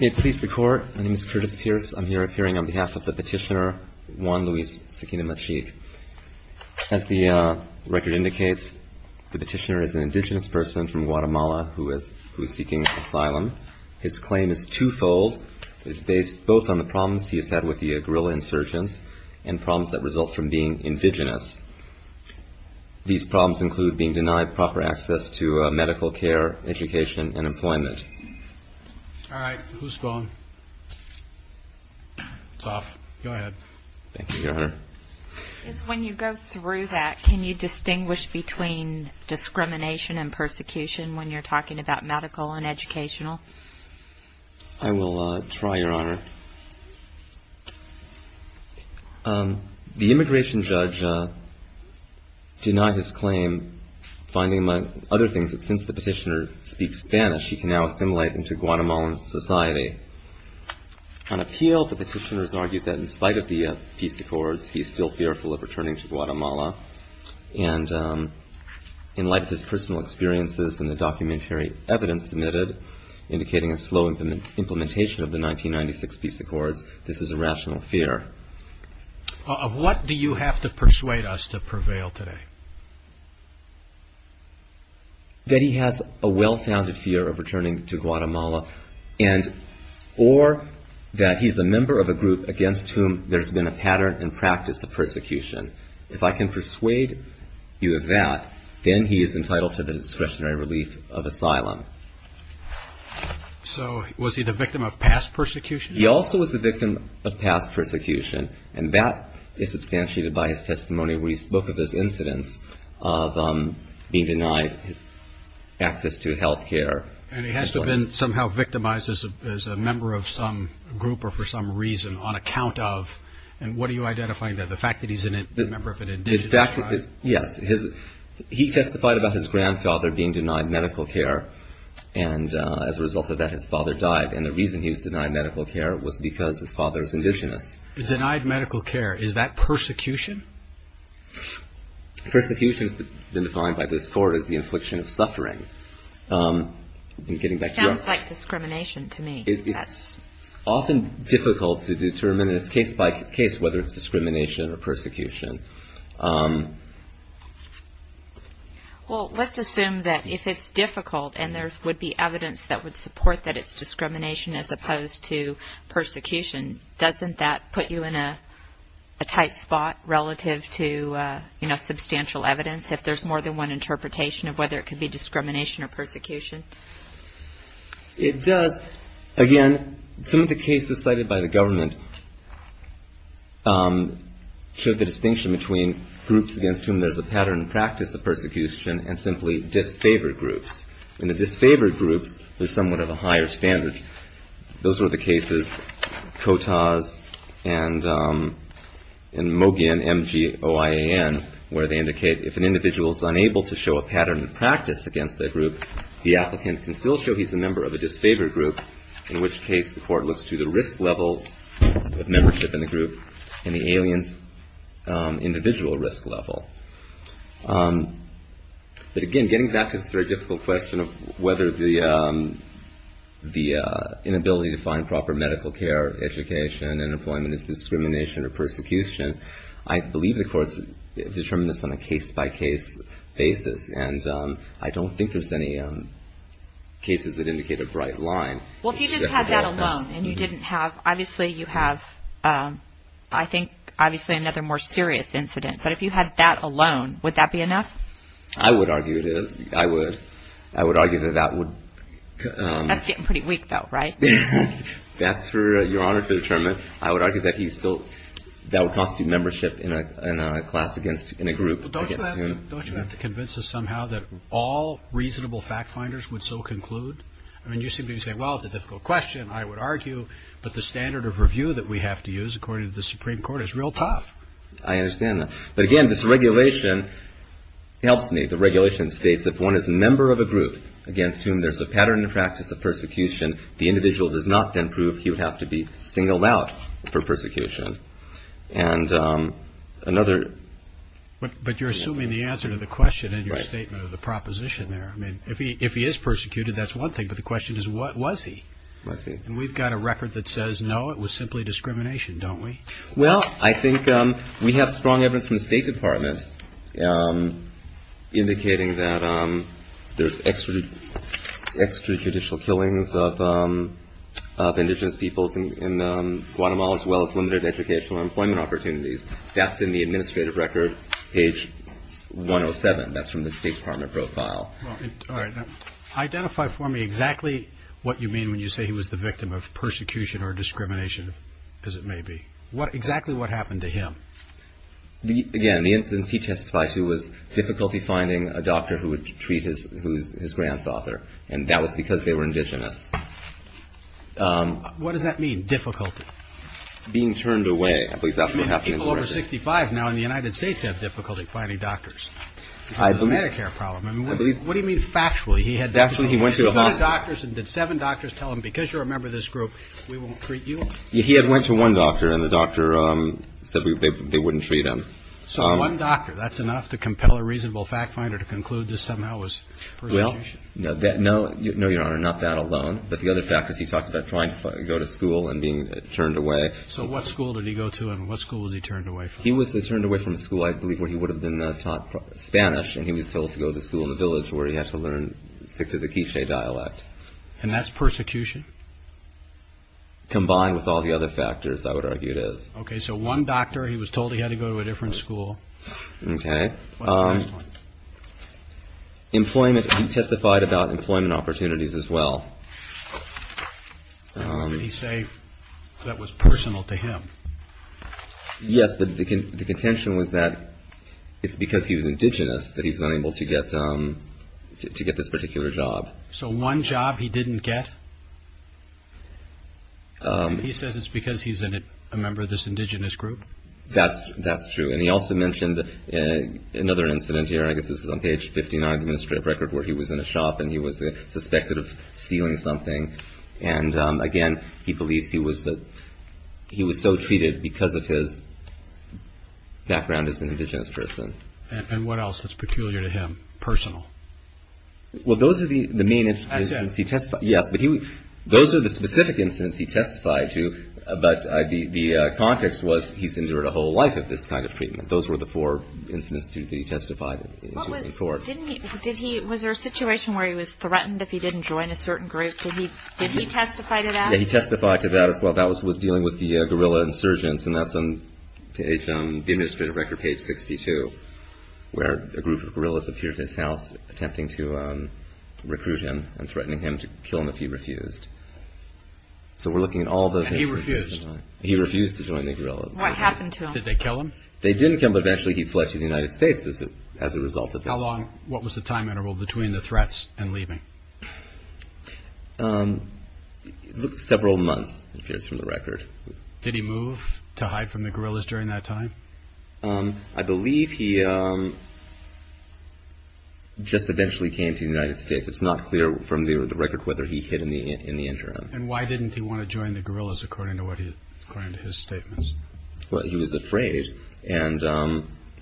May it please the Court, my name is Curtis Pearce. I'm here appearing on behalf of the petitioner, Juan Luis Sequino Machique. As the record indicates, the petitioner is an indigenous person from Guatemala who is seeking asylum. His claim is twofold. It is based both on the problems he has had with the guerrilla insurgents and problems that result from being indigenous. These problems include being denied proper access to medical care, education, and employment. All right, who's going? It's off. Go ahead. Thank you, Your Honor. When you go through that, can you distinguish between discrimination and persecution when you're talking about medical and educational? I will try, Your Honor. The immigration judge denied his claim, finding, among other things, that since the petitioner speaks Spanish, he can now assimilate into Guatemalan society. On appeal, the petitioner has argued that in spite of the peace accords, he is still fearful of returning to Guatemala. And in light of his personal experiences and the documentary evidence submitted, indicating a slow implementation of the 1996 peace accords, this is a rational fear. Of what do you have to persuade us to prevail today? That he has a well-founded fear of returning to Guatemala, or that he's a member of a group against whom there's been a pattern and practice of persecution. If I can persuade you of that, then he is entitled to the discretionary relief of asylum. So was he the victim of past persecution? He also was the victim of past persecution. And that is substantiated by his testimony where he spoke of this incidence of being denied access to health care. And he has been somehow victimized as a member of some group or for some reason on account of? And what are you identifying there? The fact that he's a member of an indigenous tribe? Yes. He testified about his grandfather being denied medical care. And as a result of that, his father died. And the reason he was denied medical care was because his father was indigenous. Denied medical care. Is that persecution? Persecution has been defined by this court as the infliction of suffering. It sounds like discrimination to me. It's often difficult to determine. It's case by case whether it's discrimination or persecution. Well, let's assume that if it's difficult and there would be evidence that would support that it's discrimination as opposed to persecution, doesn't that put you in a tight spot relative to substantial evidence, if there's more than one interpretation of whether it could be discrimination or persecution? It does. Again, some of the cases cited by the government showed the distinction between groups against whom there's a pattern and practice of persecution and simply disfavored groups. In the disfavored groups, there's somewhat of a higher standard. Those were the cases, Kotaz and Mogian, M-G-O-I-A-N, where they indicate if an individual is unable to show a pattern and practice against a group, the applicant can still show he's a member of a disfavored group, in which case the court looks to the risk level of membership in the group and the alien's individual risk level. But again, getting back to this very difficult question of whether the inability to find proper medical care, education, and employment is discrimination or persecution, I believe the court's determined this on a case-by-case basis. And I don't think there's any cases that indicate a bright line. Well, if you just had that alone and you didn't have – obviously you have, I think, obviously another more serious incident. But if you had that alone, would that be enough? I would argue it is. I would. I would argue that that would – That's getting pretty weak, though, right? That's for your Honor to determine. I would argue that he's still – that would cost you membership in a class against – in a group against whom – Don't you have to convince us somehow that all reasonable fact-finders would so conclude? I mean, you seem to be saying, well, it's a difficult question, I would argue, but the standard of review that we have to use according to the Supreme Court is real tough. I understand that. But again, this regulation helps me. The regulation states if one is a member of a group against whom there's a pattern and practice of persecution, the individual does not then prove he would have to be singled out for persecution. And another – But you're assuming the answer to the question in your statement of the proposition there. I mean, if he is persecuted, that's one thing, but the question is, what was he? And we've got a record that says, no, it was simply discrimination, don't we? Well, I think we have strong evidence from the State Department indicating that there's extrajudicial killings of indigenous peoples in Guatemala as well as limited educational and employment opportunities. That's in the administrative record, page 107. That's from the State Department profile. All right. Identify for me exactly what you mean when you say he was the victim of persecution or discrimination, as it may be. Exactly what happened to him? Again, the instance he testified to was difficulty finding a doctor who would treat his grandfather, and that was because they were indigenous. What does that mean, difficulty? Being turned away. I believe that's what happened in the record. I mean, people over 65 now in the United States have difficulty finding doctors. I believe – Because of the Medicare problem. I believe – What do you mean, factually? He had – Factually, he went to a hospital. He went to doctors and did seven doctors tell him, because you're a member of this group, we won't treat you? He had went to one doctor, and the doctor said they wouldn't treat him. So one doctor, that's enough to compel a reasonable fact finder to conclude this somehow was persecution? No, Your Honor, not that alone. But the other fact was he talked about trying to go to school and being turned away. So what school did he go to, and what school was he turned away from? He was turned away from a school, I believe, where he would have been taught Spanish, and he was told to go to school in the village where he had to learn to stick to the K'iche' dialect. And that's persecution? Combined with all the other factors, I would argue it is. Okay, so one doctor, he was told he had to go to a different school. Okay. What's the next one? Employment. He testified about employment opportunities as well. What did he say that was personal to him? Yes, but the contention was that it's because he was indigenous that he was unable to get this particular job. So one job he didn't get? He says it's because he's a member of this indigenous group? That's true. And he also mentioned another incident here. I guess this is on page 59 of the administrative record where he was in a shop and he was suspected of stealing something. And, again, he believes he was so treated because of his background as an indigenous person. And what else that's peculiar to him, personal? Well, those are the main instances he testified. Yes, but those are the specific incidents he testified to, but the context was he's endured a whole life of this kind of treatment. Those were the four instances that he testified in court. Was there a situation where he was threatened if he didn't join a certain group? Did he testify to that? Yes, he testified to that as well. That was dealing with the guerrilla insurgents, and that's on the administrative record, page 62, where a group of guerrillas appeared at his house attempting to recruit him and threatening him to kill him if he refused. So we're looking at all those instances. He refused? He refused to join the guerrillas. What happened to him? Did they kill him? They didn't kill him, but eventually he fled to the United States as a result of this. How long? What was the time interval between the threats and leaving? It looked several months, it appears from the record. Did he move to hide from the guerrillas during that time? I believe he just eventually came to the United States. It's not clear from the record whether he hid in the interim. And why didn't he want to join the guerrillas according to his statements? Well, he was afraid, and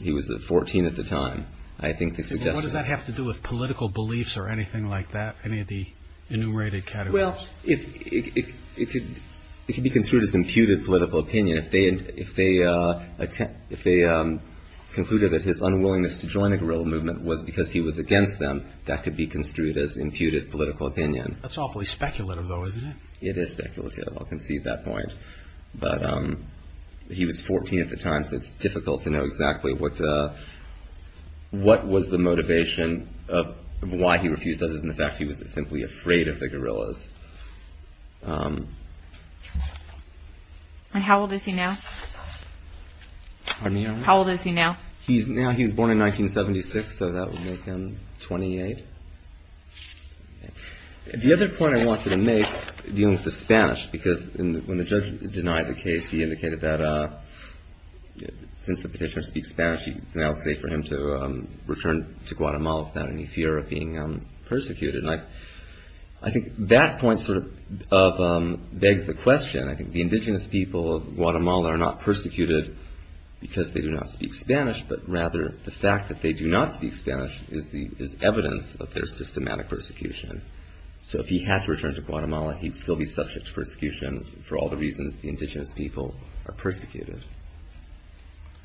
he was 14 at the time. What does that have to do with political beliefs or anything like that, any of the enumerated categories? Well, it could be construed as imputed political opinion. If they concluded that his unwillingness to join a guerrilla movement was because he was against them, that could be construed as imputed political opinion. That's awfully speculative, though, isn't it? It is speculative, I'll concede that point. But he was 14 at the time, so it's difficult to know exactly what was the motivation of why he refused, other than the fact he was simply afraid of the guerrillas. And how old is he now? Pardon me? How old is he now? Now he was born in 1976, so that would make him 28. The other point I wanted to make dealing with the Spanish, because when the judge denied the case, he indicated that since the petitioner speaks Spanish, it's now safe for him to return to Guatemala without any fear of being persecuted. And I think that point sort of begs the question. I think the indigenous people of Guatemala are not persecuted because they do not speak Spanish, but rather the fact that they do not speak Spanish is evidence of their systematic persecution. So if he had to return to Guatemala, he'd still be subject to persecution for all the reasons the indigenous people are persecuted.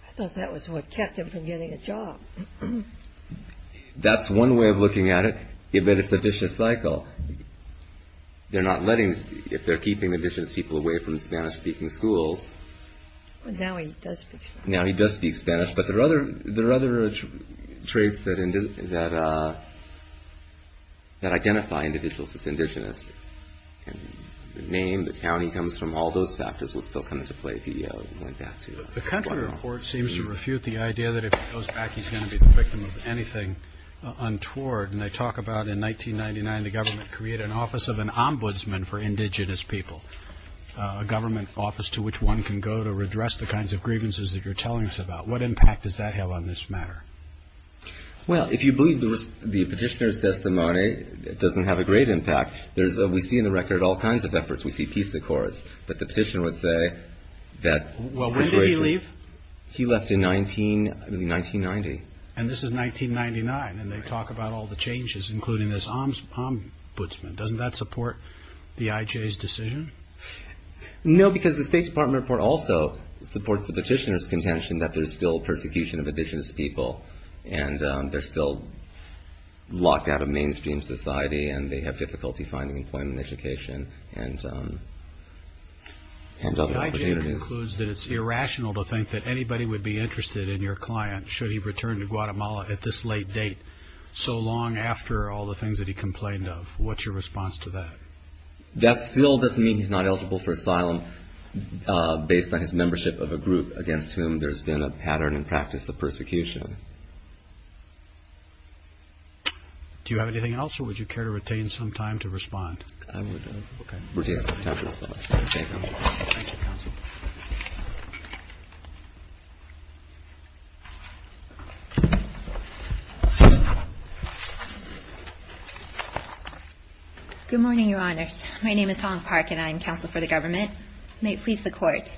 I thought that was what kept him from getting a job. That's one way of looking at it. But it's a vicious cycle. They're not letting, if they're keeping indigenous people away from Spanish-speaking schools. Now he does speak Spanish. Now he does speak Spanish. But there are other traits that identify individuals as indigenous. The name, the town he comes from, all those factors will still come into play if he went back to Guatemala. The country report seems to refute the idea that if he goes back, he's going to be the victim of anything untoward. And they talk about in 1999 the government created an office of an ombudsman for indigenous people, a government office to which one can go to redress the kinds of grievances that you're telling us about. What impact does that have on this matter? Well, if you believe the petitioner's testimony, it doesn't have a great impact. We see in the record all kinds of efforts. We see peace accords. But the petitioner would say that- Well, when did he leave? He left in 1990. And this is 1999. And they talk about all the changes, including this ombudsman. Doesn't that support the IJ's decision? No, because the State Department report also supports the petitioner's contention that there's still persecution of indigenous people. And they're still locked out of mainstream society. And they have difficulty finding employment, education, and other opportunities. The IJ concludes that it's irrational to think that anybody would be interested in your client should he return to Guatemala at this late date, so long after all the things that he complained of. What's your response to that? That still doesn't mean he's not eligible for asylum, based on his membership of a group against whom there's been a pattern and practice of persecution. Do you have anything else, or would you care to retain some time to respond? Thank you, counsel. Good morning, Your Honors. My name is Hong Park, and I'm counsel for the government. May it please the Court.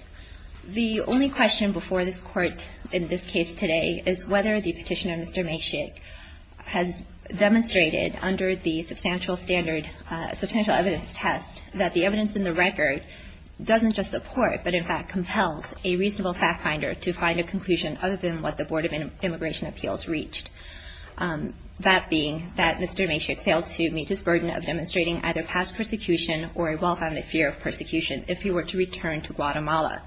The only question before this Court in this case today is whether the petitioner, Mr. Macek, has demonstrated under the substantial standard, substantial evidence test, that the evidence in the record doesn't just support, but in fact compels a reasonable fact finder to find a conclusion other than what the Board of Immigration Appeals reached. That being that Mr. Macek failed to meet his burden of demonstrating either past persecution or a well-founded fear of persecution if he were to return to Guatemala.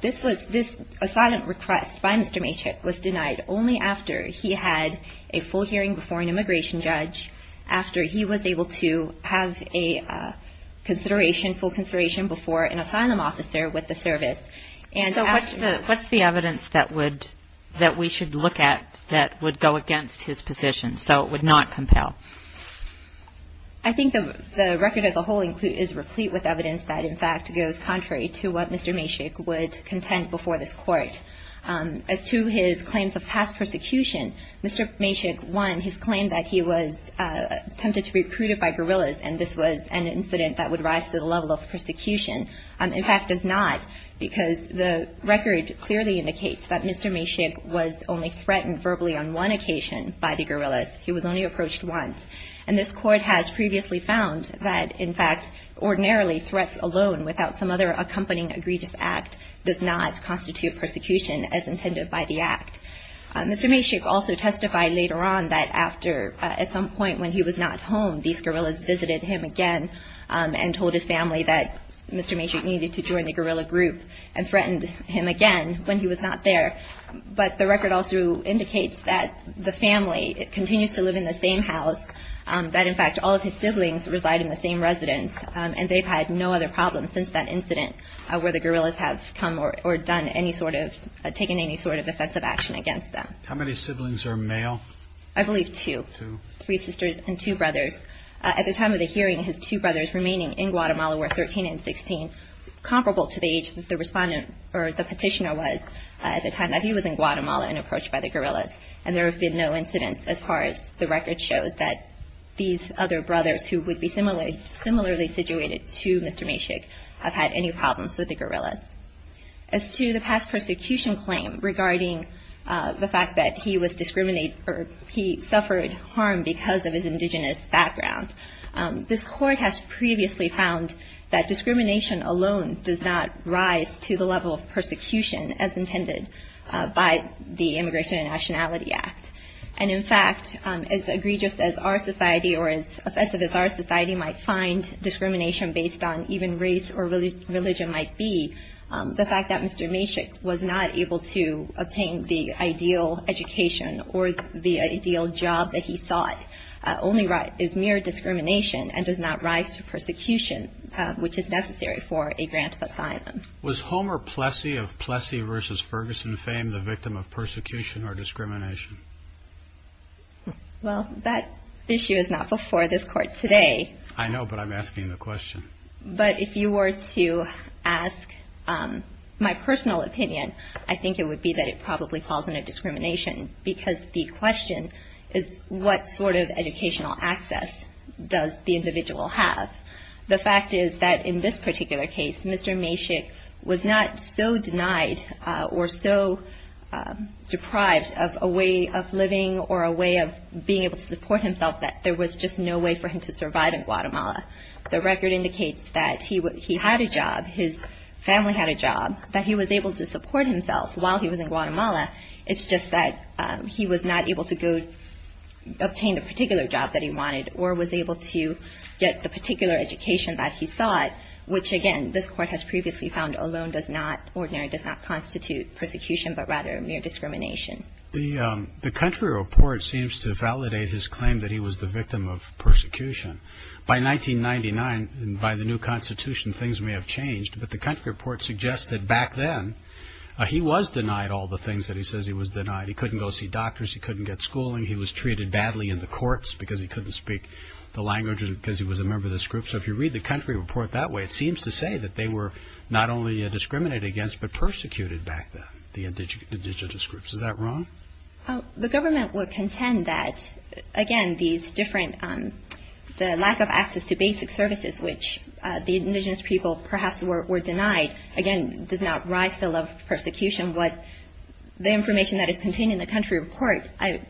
This asylum request by Mr. Macek was denied only after he had a full hearing before an immigration judge, after he was able to have a consideration, full consideration before an asylum officer with the service. So what's the evidence that we should look at that would go against his position, so it would not compel? I think the record as a whole is replete with evidence that, in fact, goes contrary to what Mr. Macek would contend before this Court. As to his claims of past persecution, Mr. Macek, one, his claim that he was tempted to be recruited by guerrillas and this was an incident that would rise to the level of persecution, in fact, does not, because the record clearly indicates that Mr. Macek was only threatened verbally on one occasion by the guerrillas. He was only approached once. And this Court has previously found that, in fact, ordinarily threats alone without some other accompanying egregious act does not constitute persecution as intended by the act. Mr. Macek also testified later on that after, at some point when he was not home, these guerrillas visited him again and told his family that Mr. Macek needed to join the guerrilla group and threatened him again when he was not there. But the record also indicates that the family continues to live in the same house, that, in fact, all of his siblings reside in the same residence, and they've had no other problems since that incident where the guerrillas have come or taken any sort of offensive action against them. How many siblings are male? I believe two, three sisters and two brothers. At the time of the hearing, his two brothers remaining in Guatemala were 13 and 16, comparable to the age that the petitioner was at the time that he was in Guatemala and approached by the guerrillas. And there have been no incidents as far as the record shows that these other brothers who would be similarly situated to Mr. Macek have had any problems with the guerrillas. As to the past persecution claim regarding the fact that he was discriminated or he suffered harm because of his indigenous background, this court has previously found that discrimination alone does not rise to the level of persecution as intended by the Immigration and Nationality Act. And, in fact, as egregious as our society or as offensive as our society might find discrimination based on even race or religion might be, the fact that Mr. Macek was not able to obtain the ideal education or the ideal job that he sought is mere discrimination and does not rise to persecution, which is necessary for a grant of asylum. Was Homer Plessy of Plessy versus Ferguson fame the victim of persecution or discrimination? Well, that issue is not before this court today. I know, but I'm asking the question. But if you were to ask my personal opinion, I think it would be that it probably falls under discrimination because the question is what sort of educational access does the individual have? The fact is that in this particular case, Mr. Macek was not so denied or so deprived of a way of living or a way of being able to support himself that there was just no way for him to survive in Guatemala. The record indicates that he had a job, his family had a job, that he was able to support himself while he was in Guatemala. It's just that he was not able to go obtain the particular job that he wanted or was able to get the particular education that he sought, which, again, this court has previously found alone does not constitute persecution, but rather mere discrimination. The country report seems to validate his claim that he was the victim of persecution. By 1999, by the new constitution, things may have changed, but the country report suggests that back then he was denied all the things that he says he was denied. He couldn't go see doctors. He couldn't get schooling. He was treated badly in the courts because he couldn't speak the language because he was a member of this group. So if you read the country report that way, it seems to say that they were not only discriminated against but persecuted back then, the indigenous groups. Is that wrong? The government would contend that, again, the lack of access to basic services, which the indigenous people perhaps were denied, again, does not rise to the level of persecution, but the information that is contained in the country report,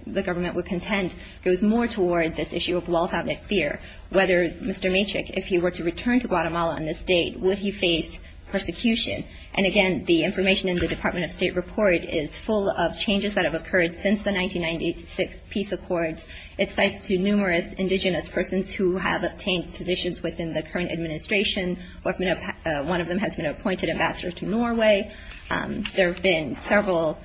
the government would contend, goes more toward this issue of wealth outnumbered fear, whether Mr. Matrick, if he were to return to Guatemala on this date, would he face persecution? And, again, the information in the Department of State report is full of changes that have occurred since the 1996 peace accord. It cites numerous indigenous persons who have obtained positions within the current administration. One of them has been appointed ambassador to Norway. There have been several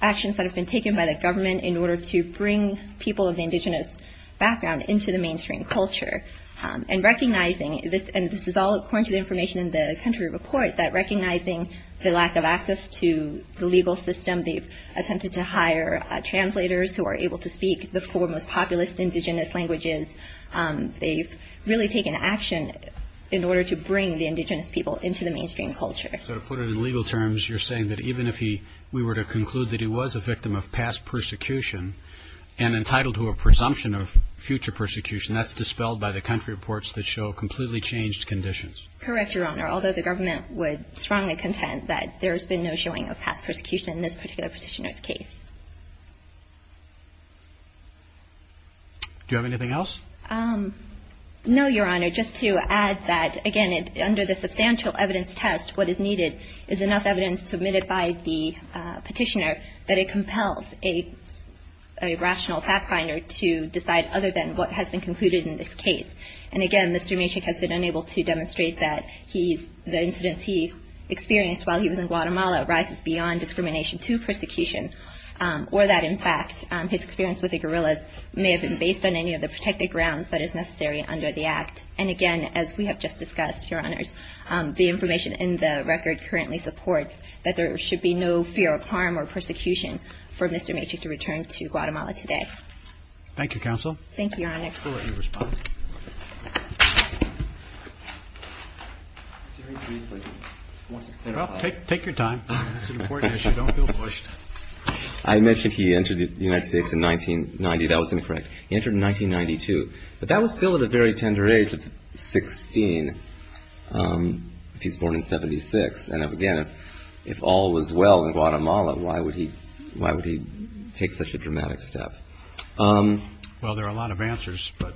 actions that have been taken by the government in order to bring people of the indigenous background into the mainstream culture. And recognizing this, and this is all according to the information in the country report, that recognizing the lack of access to the legal system, they've attempted to hire translators who are able to speak the four most populist indigenous languages. They've really taken action in order to bring the indigenous people into the mainstream culture. So to put it in legal terms, you're saying that even if we were to conclude that he was a victim of past persecution and entitled to a presumption of future persecution, that's dispelled by the country reports that show completely changed conditions? Correct, Your Honor. Although the government would strongly contend that there has been no showing of past persecution in this particular petitioner's case. Do you have anything else? No, Your Honor. Just to add that, again, under the substantial evidence test, what is needed is enough evidence submitted by the petitioner that it compels a rational fact finder to decide other than what has been concluded in this case. And again, Mr. Maciek has been unable to demonstrate that the incidents he experienced while he was in Guatemala rises beyond discrimination to persecution. Or that, in fact, his experience with the guerrillas may have been based on any of the protected grounds that is necessary under the act. And again, as we have just discussed, Your Honors, the information in the record currently supports that there should be no fear of harm or persecution for Mr. Maciek to return to Guatemala today. Thank you, Counsel. Thank you, Your Honor. We'll let you respond. Well, take your time. It's an important issue. Don't feel pushed. I mentioned he entered the United States in 1990. That was incorrect. He entered in 1992. But that was still at a very tender age of 16 if he's born in 76. And again, if all was well in Guatemala, why would he take such a dramatic step? Well, there are a lot of answers, but...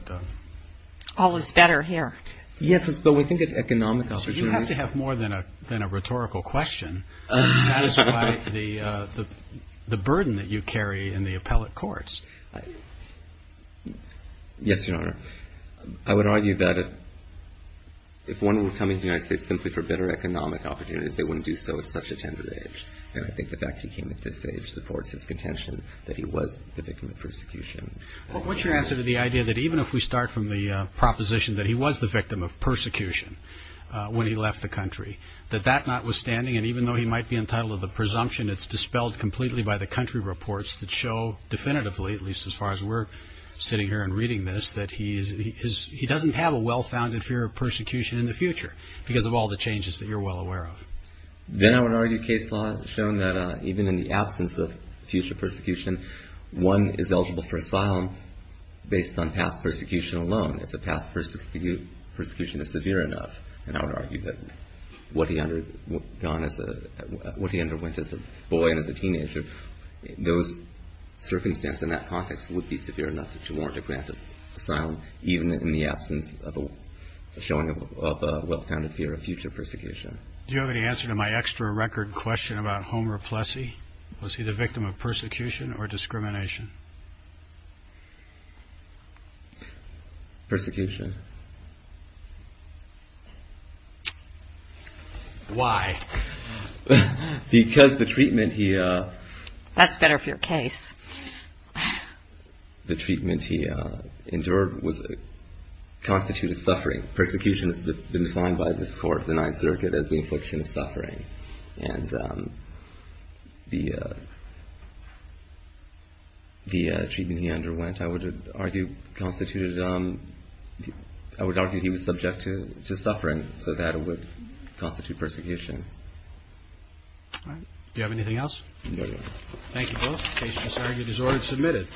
All is better here. Yes, but we think it's economically... Counsel, you have to have more than a rhetorical question to satisfy the burden that you carry in the appellate courts. Yes, Your Honor. I would argue that if one were coming to the United States simply for better economic opportunities, they wouldn't do so at such a tender age. And I think the fact he came at this age supports his contention that he was the victim of persecution. What's your answer to the idea that even if we start from the proposition that he was the victim of persecution when he left the country, that that notwithstanding, and even though he might be entitled to the presumption, it's dispelled completely by the country reports that show definitively, at least as far as we're sitting here and reading this, that he doesn't have a well-founded fear of persecution in the future because of all the changes that you're well aware of. Then I would argue case law has shown that even in the absence of future persecution, one is eligible for asylum based on past persecution alone, if the past persecution is severe enough. And I would argue that what he underwent as a boy and as a teenager, those circumstances in that context would be severe enough to warrant a grant of asylum, even in the absence of a showing of a well-founded fear of future persecution. Do you have any answer to my extra record question about Homer Plessy? Was he the victim of persecution or discrimination? Persecution. Why? Because the treatment he. That's better for your case. The treatment he endured was constituted suffering. Persecution has been defined by this court, the Ninth Circuit, as the infliction of suffering. And the treatment he underwent, I would argue, constituted, I would argue he was subject to suffering. So that would constitute persecution. Do you have anything else? No, Your Honor. Thank you both. The case was argued as ordered and submitted.